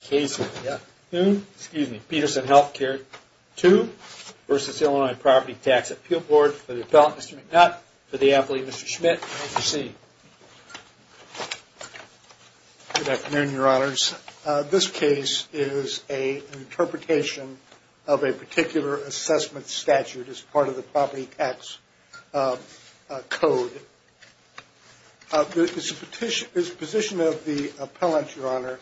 for the appellant, Mr. McNutt, for the appellee, Mr. Schmidt, and Mr. Seed. Good afternoon, Your Honors. This case is an interpretation of a particular assessment statute as part of the Property Tax Code. It is the position of the appellant, Your Honor,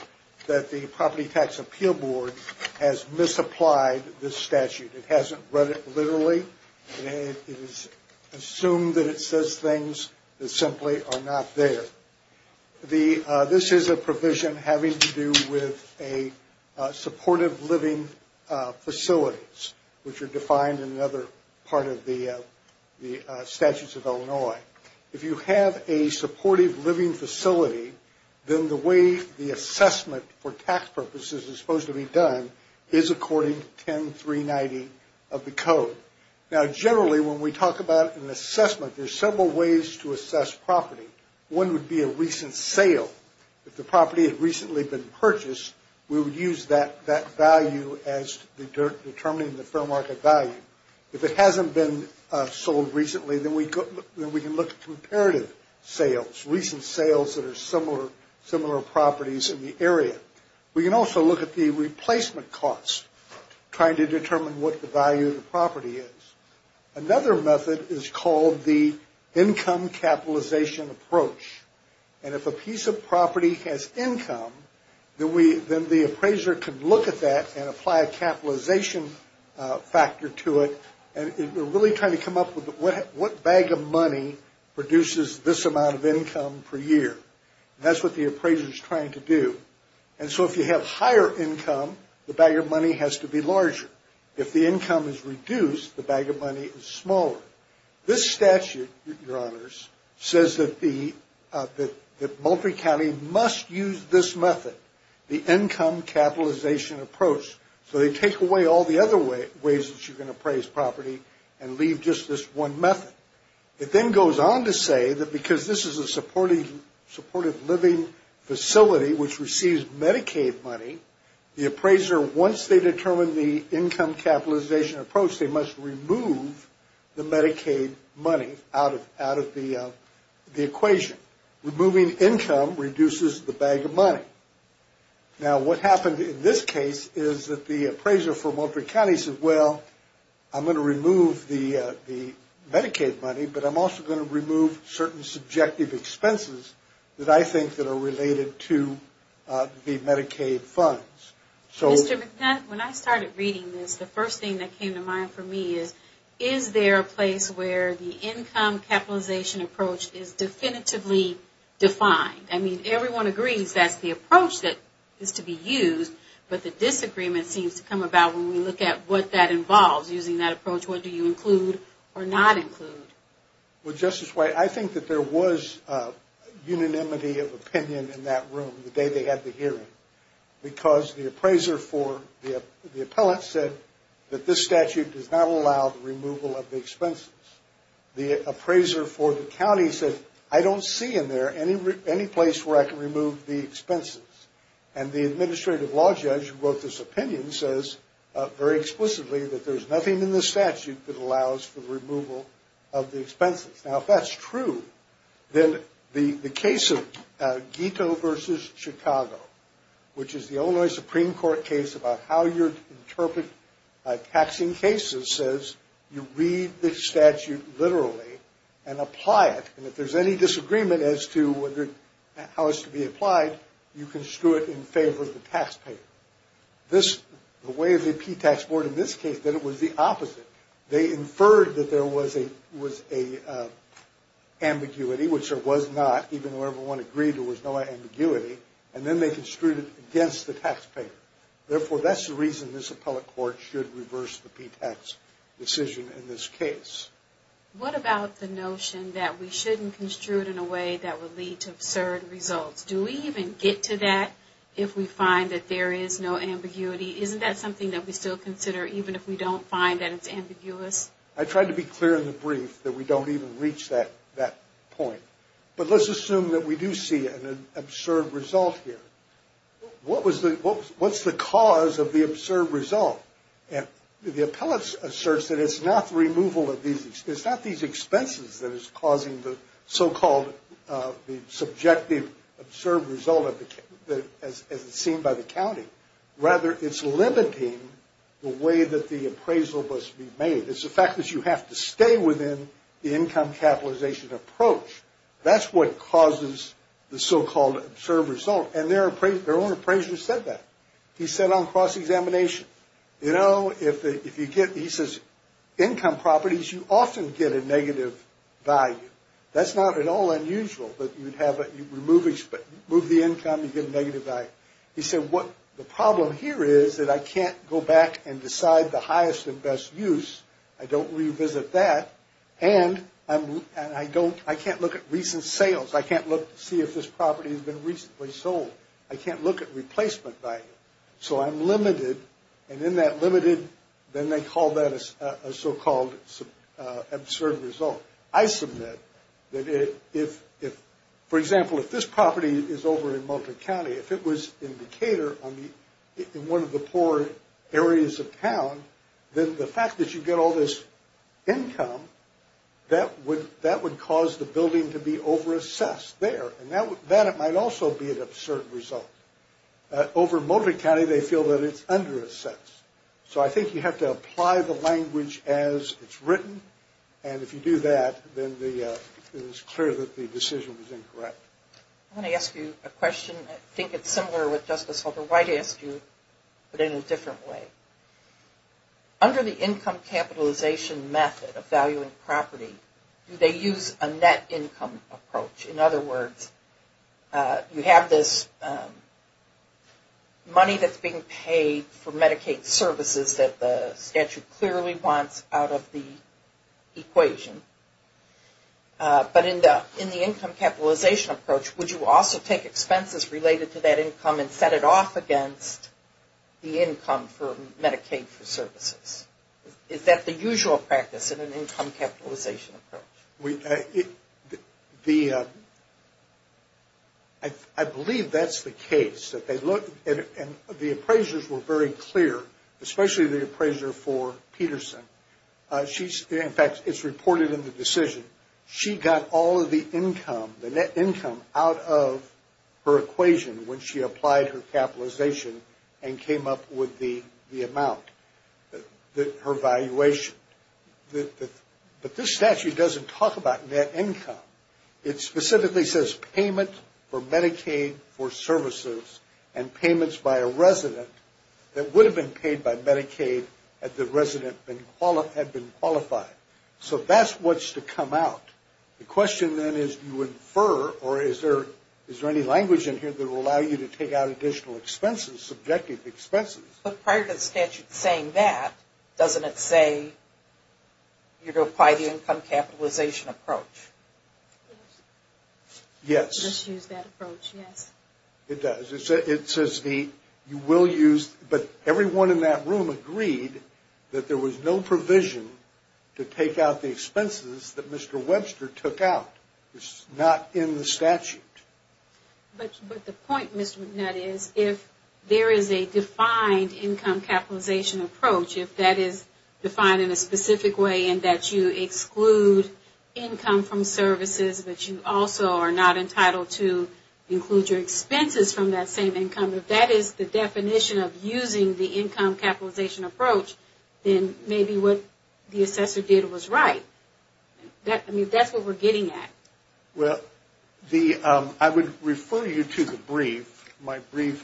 that the Property Tax Appeal Board has misapplied this statute. It hasn't read it literally. It has assumed that it says things that simply are not there. This is a provision having to do with supportive living facilities, which are defined in another part of the Statutes of Illinois. If you have a supportive living facility, then the way the assessment for tax purposes is supposed to be done is according to 10390 of the Code. Now, generally, when we talk about an assessment, there are several ways to assess property. One would be a recent sale. If the property had recently been purchased, we would use that value as determining the fair market value. If it hasn't been sold recently, then we can look at comparative sales, recent sales that are similar properties in the area. We can also look at the replacement costs, trying to determine what the value of the property is. Another method is called the income capitalization approach. And if a piece of property has income, then the appraiser can look at that and apply a capitalization factor to it. And we're really trying to come up with what bag of money produces this amount of income per year. And that's what the appraiser is trying to do. And so if you have higher income, the bag of money has to be larger. If the income is reduced, the bag of money is smaller. This statute, Your Honors, says that Moultrie County must use this method, the income capitalization approach. So they take away all the other ways that you can appraise property and leave just this one method. It then goes on to say that because this is a supportive living facility which receives Medicaid money, the appraiser, once they determine the income capitalization approach, they must remove the Medicaid money out of the equation. Removing income reduces the bag of money. Now, what happened in this case is that the appraiser for Moultrie County said, well, I'm going to remove the Medicaid money, but I'm also going to remove certain subjective expenses that I think that are related to the Medicaid funds. Mr. McNutt, when I started reading this, the first thing that came to mind for me is, is there a place where the income capitalization approach is definitively defined? I mean, everyone agrees that's the approach that is to be used, but the disagreement seems to come about when we look at what that involves, using that approach. What do you include or not include? Well, Justice White, I think that there was unanimity of opinion in that room the day they had the hearing because the appraiser for the appellate said that this statute does not allow the removal of the expenses. The appraiser for the county said, I don't see in there any place where I can remove the expenses. And the administrative law judge who wrote this opinion says very explicitly that there's nothing in the statute that allows for the removal of the expenses. Now, if that's true, then the case of Guito versus Chicago, which is the Illinois Supreme Court case about how you interpret taxing cases, says you read the statute literally and apply it. And if there's any disagreement as to how it's to be applied, you construe it in favor of the taxpayer. The way the P-Tax Board in this case did it was the opposite. They inferred that there was an ambiguity, which there was not, even though everyone agreed there was no ambiguity, and then they construed it against the taxpayer. Therefore, that's the reason this appellate court should reverse the P-Tax decision in this case. What about the notion that we shouldn't construe it in a way that would lead to absurd results? Do we even get to that if we find that there is no ambiguity? Isn't that something that we still consider even if we don't find that it's ambiguous? I tried to be clear in the brief that we don't even reach that point. But let's assume that we do see an absurd result here. What's the cause of the absurd result? The appellate asserts that it's not the removal of these expenses. It's not these expenses that is causing the so-called subjective absurd result as it's seen by the county. Rather, it's limiting the way that the appraisal must be made. It's the fact that you have to stay within the income capitalization approach. That's what causes the so-called absurd result. And their own appraiser said that. He said on cross-examination, you know, if you get, he says, income properties, you often get a negative value. That's not at all unusual that you'd have a, you remove the income, you get a negative value. He said what the problem here is that I can't go back and decide the highest and best use. I don't revisit that. And I don't, I can't look at recent sales. I can't look to see if this property has been recently sold. I can't look at replacement value. So I'm limited. And in that limited, then they call that a so-called absurd result. I submit that if, for example, if this property is over in Moultrie County, if it was in Decatur, in one of the poor areas of town, then the fact that you get all this income, that would cause the building to be over-assessed there. And that might also be an absurd result. Over in Moultrie County, they feel that it's under-assessed. So I think you have to apply the language as it's written. And if you do that, then it is clear that the decision was incorrect. I want to ask you a question. I think it's similar with Justice Holder White asked you, but in a different way. Under the income capitalization method of valuing property, do they use a net income approach? In other words, you have this money that's being paid for Medicaid services that the statute clearly wants out of the equation. But in the income capitalization approach, would you also take expenses related to that income and set it off against the income for Medicaid services? Is that the usual practice in an income capitalization approach? I believe that's the case. The appraisers were very clear, especially the appraiser for Peterson. In fact, it's reported in the decision. She got all of the income, the net income, out of her equation when she applied her capitalization and came up with the amount, her valuation. But this statute doesn't talk about net income. It specifically says payment for Medicaid for services and payments by a resident that would have been paid by Medicaid if the resident had been qualified. So that's what's to come out. The question then is do you infer or is there any language in here that will allow you to take out additional expenses, subjective expenses? But prior to the statute saying that, doesn't it say you're going to apply the income capitalization approach? Yes. It does. It says you will use, but everyone in that room agreed that there was no provision to take out the expenses that Mr. Webster took out. It's not in the statute. But the point, Mr. McNutt, is if there is a defined income capitalization approach, if that is defined in a specific way in that you exclude income from services, but you also are not entitled to include your expenses from that same income, if that is the definition of using the income capitalization approach, then maybe what the assessor did was right. I mean, that's what we're getting at. Well, I would refer you to the brief, my brief,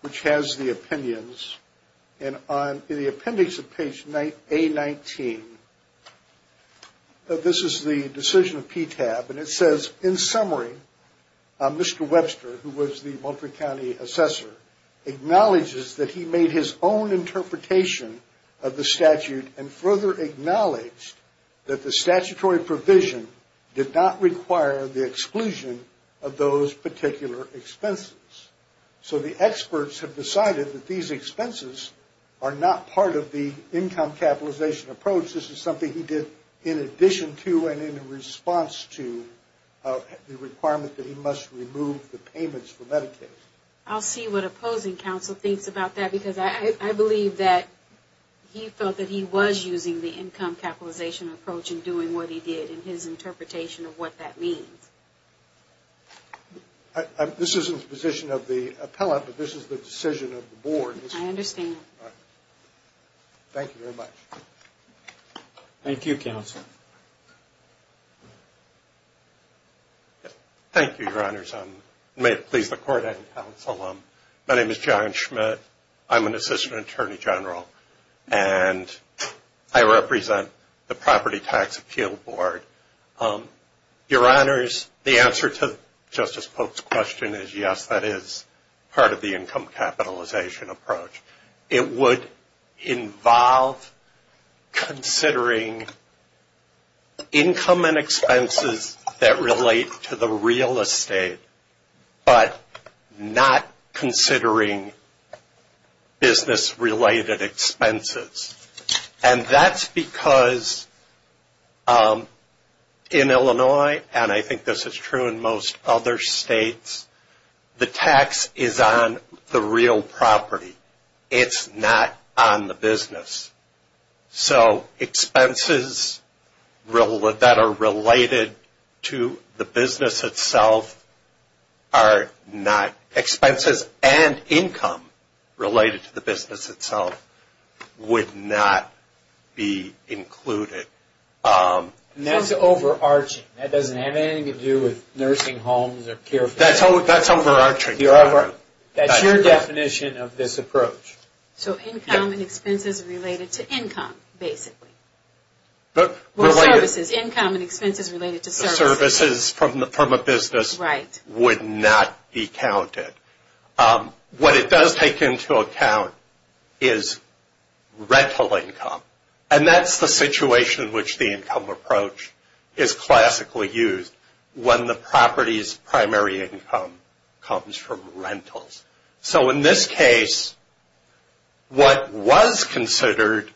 which has the opinions. And in the appendix of page A-19, this is the decision of PTAB, and it says, in summary, Mr. Webster, who was the Moultrie County assessor, acknowledges that he made his own interpretation of the statute and further acknowledged that the statutory provision did not require the exclusion of those particular expenses. So the experts have decided that these expenses are not part of the income capitalization approach. This is something he did in addition to and in response to the requirement that he must remove the payments for Medicaid. I'll see what opposing counsel thinks about that, because I believe that he felt that he was using the income capitalization approach and doing what he did in his interpretation of what that means. This isn't the position of the appellate, but this is the decision of the board. I understand. Thank you very much. Thank you, counsel. Thank you, Your Honors. May it please the Court and counsel, my name is John Schmidt. I'm an assistant attorney general, and I represent the Property Tax Appeal Board. Your Honors, the answer to Justice Polk's question is yes, that is part of the income capitalization approach. It would involve considering income and expenses that relate to the real estate, but not considering business-related expenses. And that's because in Illinois, and I think this is true in most other states, the tax is on the real property. It's not on the business. So expenses that are related to the business itself are not expenses, and income related to the business itself would not be included. And that's overarching. That doesn't have anything to do with nursing homes or care facilities. That's overarching. That's your definition of this approach. So income and expenses related to income, basically. Or services, income and expenses related to services. The services from a business would not be counted. What it does take into account is rental income, and that's the situation in which the income approach is classically used when the property's primary income comes from rentals. So in this case, what was considered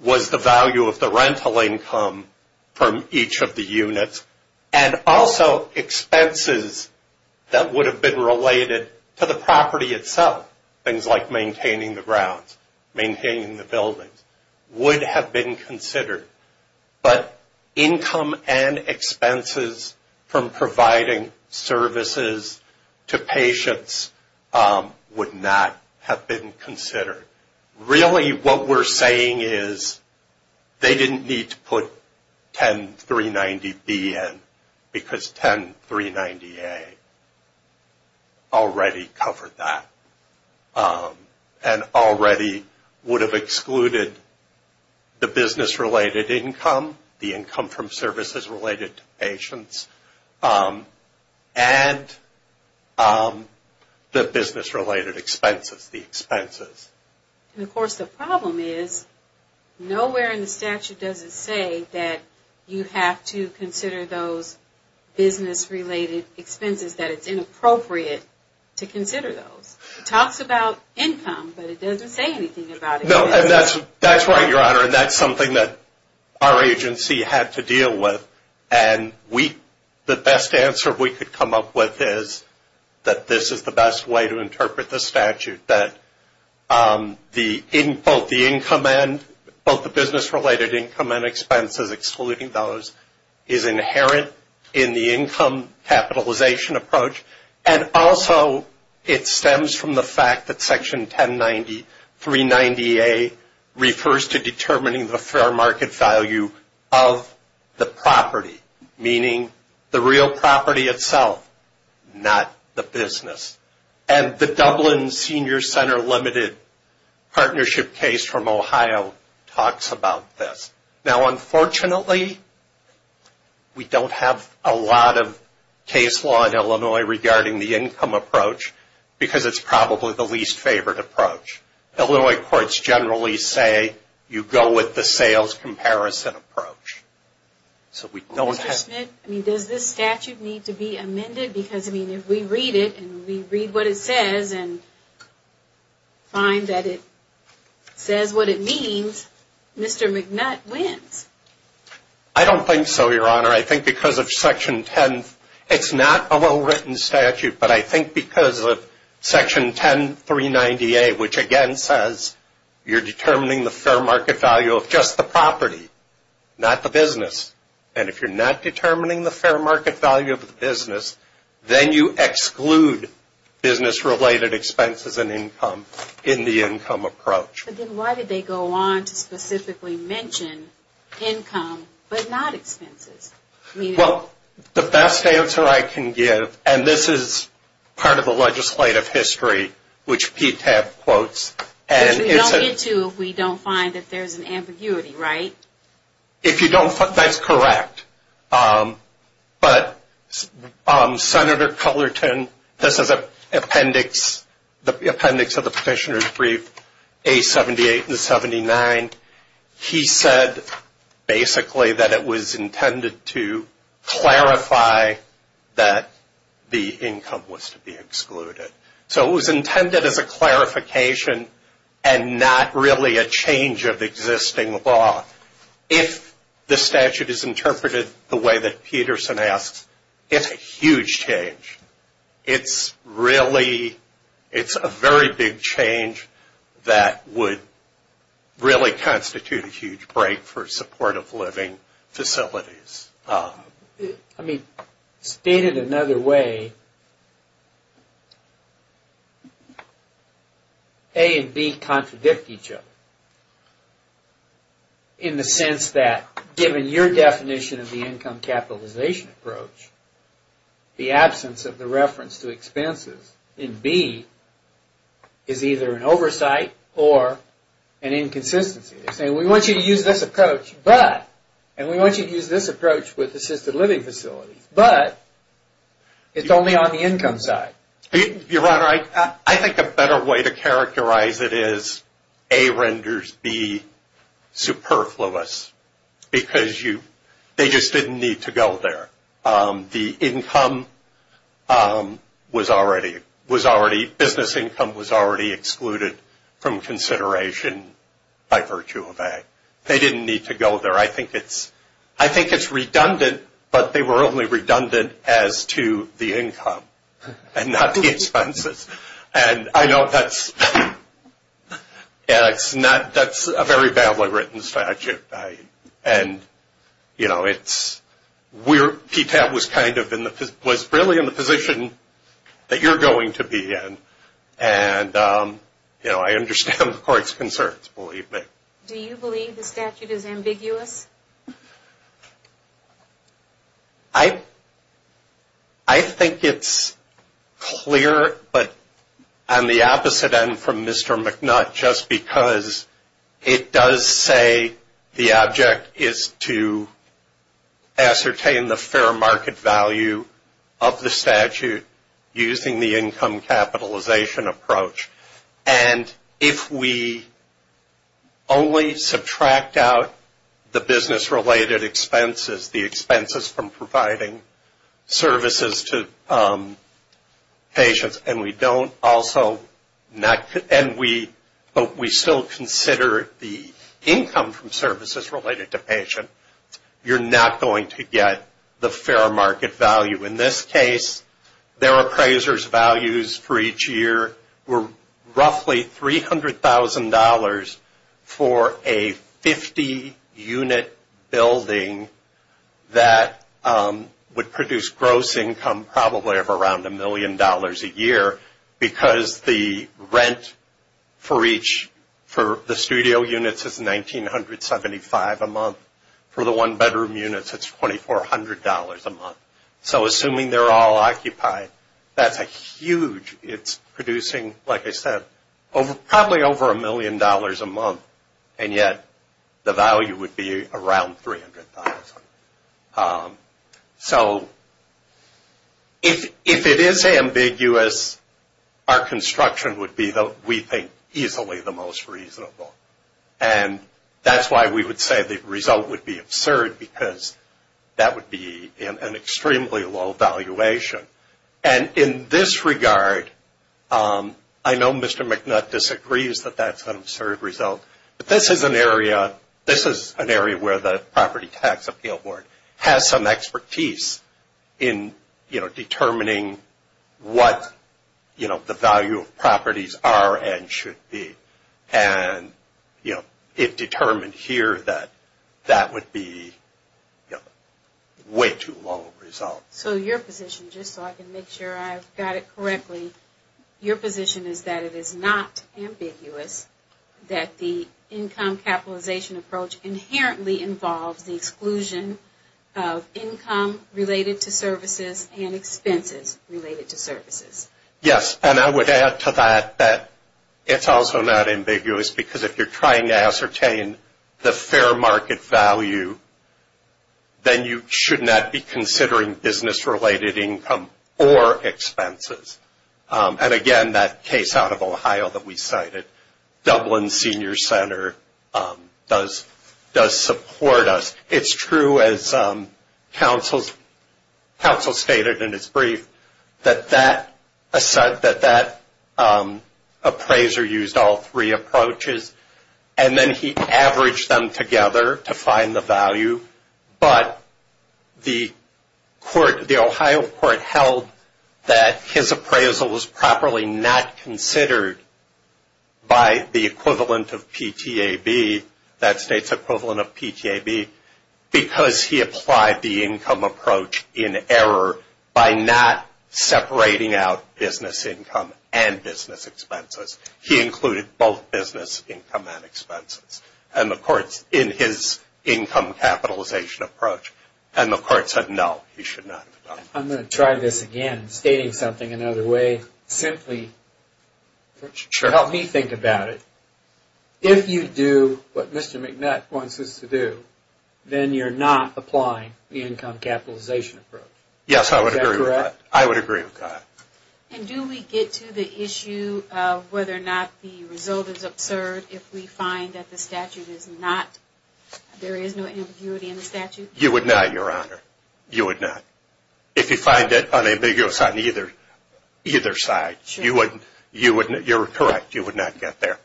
was the value of the rental income from each of the units, and also expenses that would have been related to the property itself, things like maintaining the grounds, maintaining the buildings, would have been considered. But income and expenses from providing services to patients would not have been considered. Really what we're saying is they didn't need to put 10390B in because 10390A already covered that and already would have excluded the business-related income, the income from services related to patients, and the business-related expenses, the expenses. And of course the problem is nowhere in the statute does it say that you have to consider those business-related expenses, that it's inappropriate to consider those. It talks about income, but it doesn't say anything about expenses. No, and that's right, Your Honor, and that's something that our agency had to deal with, and the best answer we could come up with is that this is the best way to interpret the statute, that both the income and both the business-related income and expenses, excluding those, is inherent in the income capitalization approach, and also it stems from the fact that Section 109390A refers to determining the fair market value of the property, meaning the real property itself, not the business. And the Dublin Senior Center Limited partnership case from Ohio talks about this. Now, unfortunately, we don't have a lot of case law in Illinois regarding the income approach because it's probably the least favored approach. Illinois courts generally say you go with the sales comparison approach. So we don't have... I mean, does this statute need to be amended? Because, I mean, if we read it and we read what it says and find that it says what it means, Mr. McNutt wins. I don't think so, Your Honor. I think because of Section 10... It's not a well-written statute, but I think because of Section 10390A, which again says you're determining the fair market value of just the property, not the business, and if you're not determining the fair market value of the business, then you exclude business-related expenses and income in the income approach. But then why did they go on to specifically mention income but not expenses? Well, the best answer I can give, and this is part of the legislative history, which PTAP quotes... Because we don't get to if we don't find that there's an ambiguity, right? If you don't find... That's correct, but Senator Cullerton... This is the appendix of the Petitioner's Brief, A78 and 79. He said basically that it was intended to clarify that the income was to be excluded. So it was intended as a clarification and not really a change of existing law. If the statute is interpreted the way that Peterson asked, it's a huge change. It's really... It's a very big change that would really constitute a huge break for supportive living facilities. I mean, stated another way, A and B contradict each other. In the sense that, given your definition of the income capitalization approach, the absence of the reference to expenses in B is either an oversight or an inconsistency. They're saying, we want you to use this approach, but... And we want you to use this approach with assisted living facilities, but it's only on the income side. Your Honor, I think a better way to characterize it is A renders B superfluous, because they just didn't need to go there. The income was already... Business income was already excluded from consideration by virtue of A. They didn't need to go there. I think it's redundant, but they were only redundant as to the income and not the expenses. And I know that's a very badly written statute. And, you know, it's... PTAP was really in the position that you're going to be in. And, you know, I understand the Court's concerns, believe me. I think it's clear, but on the opposite end from Mr. McNutt, just because it does say the object is to ascertain the fair market value of the statute using the income capitalization approach. And if we only subtract out the business-related expenses, the expenses from providing services to patients, and we don't also not... and we still consider the income from services related to patient, you're not going to get the fair market value. In this case, their appraiser's values for each year were roughly $300,000 for a 50-unit building that would produce gross income probably of around $1 million a year because the rent for the studio units is $1,975 a month. For the one-bedroom units, it's $2,400 a month. So assuming they're all occupied, that's a huge... it's producing, like I said, probably over $1 million a month, and yet the value would be around $300,000. So if it is ambiguous, our construction would be, we think, easily the most reasonable. And that's why we would say the result would be absurd because that would be an extremely low valuation. And in this regard, I know Mr. McNutt disagrees that that's an absurd result, but this is an area where the Property Tax Appeal Board has some expertise in, you know, determining what, you know, the value of properties are and should be. And, you know, it determined here that that would be, you know, way too low a result. So your position, just so I can make sure I've got it correctly, your position is that it is not ambiguous that the income capitalization approach inherently involves the exclusion of income related to services and expenses related to services. Yes, and I would add to that that it's also not ambiguous because if you're trying to ascertain the fair market value, then you should not be considering business related income or expenses. And again, that case out of Ohio that we cited, Dublin Senior Center does support us. It's true as counsel stated in his brief that that appraiser used all three approaches and then he averaged them together to find the value, but the Ohio court held that his appraisal was properly not considered by the equivalent of PTAB, that state's equivalent of PTAB, because he applied the income approach in error by not separating out business income and business expenses. He included both business income and expenses in his income capitalization approach. And the court said no, he should not have done that. I'm going to try this again, stating something another way. Simply, help me think about it. If you do what Mr. McNutt wants us to do, then you're not applying the income capitalization approach. Yes, I would agree with that. I would agree with that. And do we get to the issue of whether or not the result is absurd if we find that the statute is not, there is no ambiguity in the statute? You would not, Your Honor. You would not. If you find it unambiguous on either side, you're correct. You would not get there.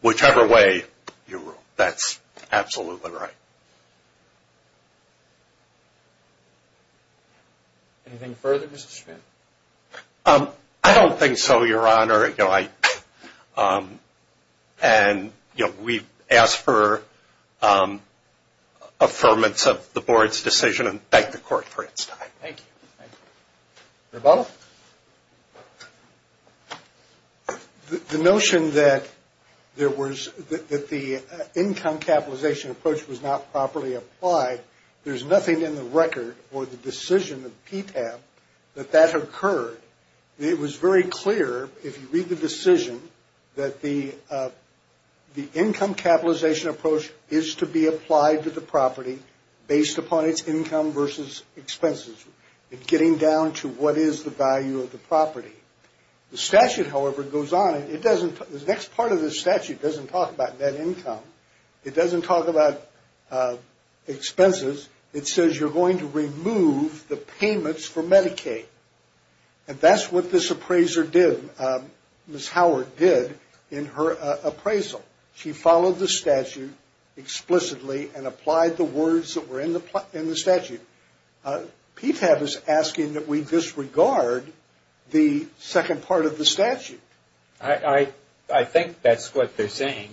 Whichever way you rule, that's absolutely right. Anything further, Mr. Schmidt? I don't think so, Your Honor. And, you know, we've asked for affirmance of the board's decision and thank the court for its time. Thank you. Thank you. Mr. Butler? The notion that there was, that the income capitalization approach was not properly applied, there's nothing in the record for the decision of PTAP that that occurred. It was very clear, if you read the decision, that the income capitalization approach is to be applied to the property based upon its income versus expenses, getting down to what is the value of the property. The statute, however, goes on. It doesn't, the next part of the statute doesn't talk about net income. It doesn't talk about expenses. It says you're going to remove the payments for Medicaid. And that's what this appraiser did, Ms. Howard, did in her appraisal. She followed the statute explicitly and applied the words that were in the statute. PTAP is asking that we disregard the second part of the statute. I think that's what they're saying,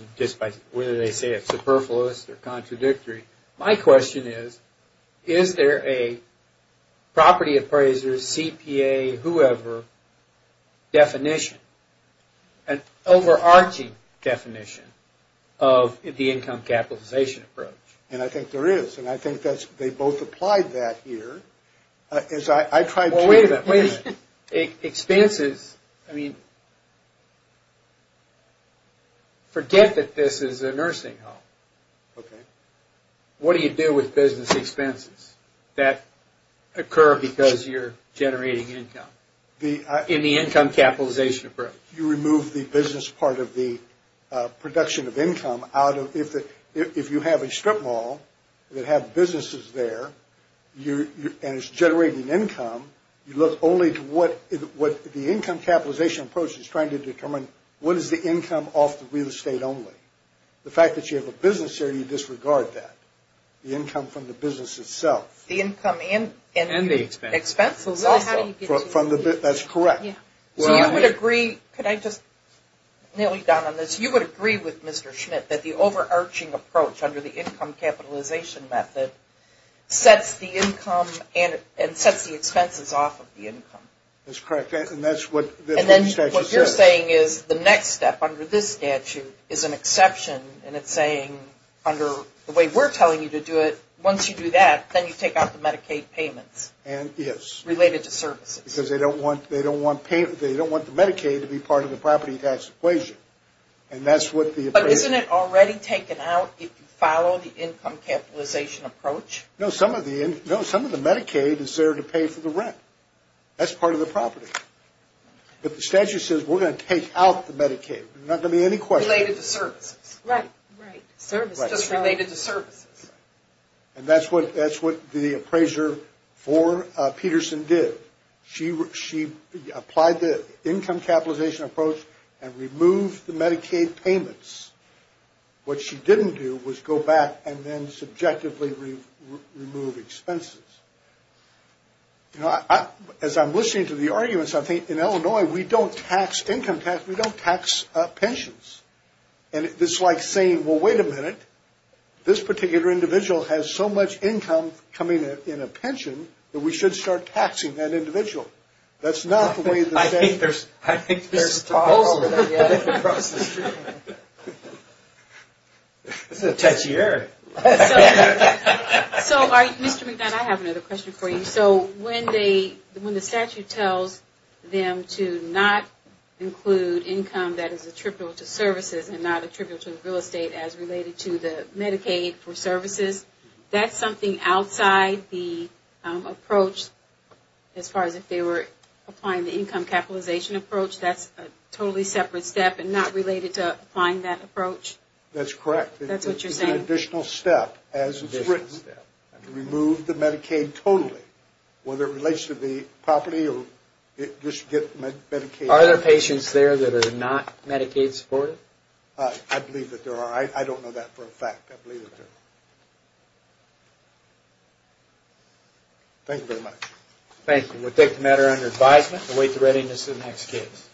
whether they say it's superfluous or contradictory. My question is, is there a property appraiser, CPA, whoever, definition, an overarching definition of the income capitalization approach? And I think there is. And I think they both applied that here. Wait a minute, wait a minute. Expenses, I mean, forget that this is a nursing home. What do you do with business expenses that occur because you're generating income in the income capitalization approach? You remove the business part of the production of income out of, if you have a strip mall that have businesses there and it's generating income, you look only to what the income capitalization approach is trying to determine, what is the income off the real estate only? The fact that you have a business there, you disregard that. The income from the business itself. The income and the expenses also. That's correct. So you would agree, could I just nail you down on this, you would agree with Mr. Schmidt that the overarching approach under the income capitalization method sets the income and sets the expenses off of the income. That's correct, and that's what the statute says. What you're saying is the next step under this statute is an exception, and it's saying under the way we're telling you to do it, once you do that, then you take out the Medicaid payments. Yes. Related to services. Because they don't want the Medicaid to be part of the property tax equation. But isn't it already taken out if you follow the income capitalization approach? No, some of the Medicaid is there to pay for the rent. That's part of the property. But the statute says we're going to take out the Medicaid. There's not going to be any questions. Related to services. Right. Right. Services. Just related to services. And that's what the appraiser for Peterson did. She applied the income capitalization approach and removed the Medicaid payments. What she didn't do was go back and then subjectively remove expenses. You know, as I'm listening to the arguments, I think in Illinois we don't tax income tax, we don't tax pensions. And it's like saying, well, wait a minute, this particular individual has so much income coming in a pension that we should start taxing that individual. That's not the way the statute says it. I think there's a problem with that across the street. This is a touchy area. So, Mr. McDonough, I have another question for you. So when the statute tells them to not include income that is attributable to services and not attributable to real estate as related to the Medicaid for services, that's something outside the approach as far as if they were applying the income capitalization approach? That's a totally separate step and not related to applying that approach? That's correct. That's what you're saying? That's an additional step as it's written. Remove the Medicaid totally, whether it relates to the property or just get Medicaid. Are there patients there that are not Medicaid supported? I believe that there are. I don't know that for a fact. I believe that there are. Thank you very much. Thank you. We'll take the matter under advisement and await the readiness of the next case.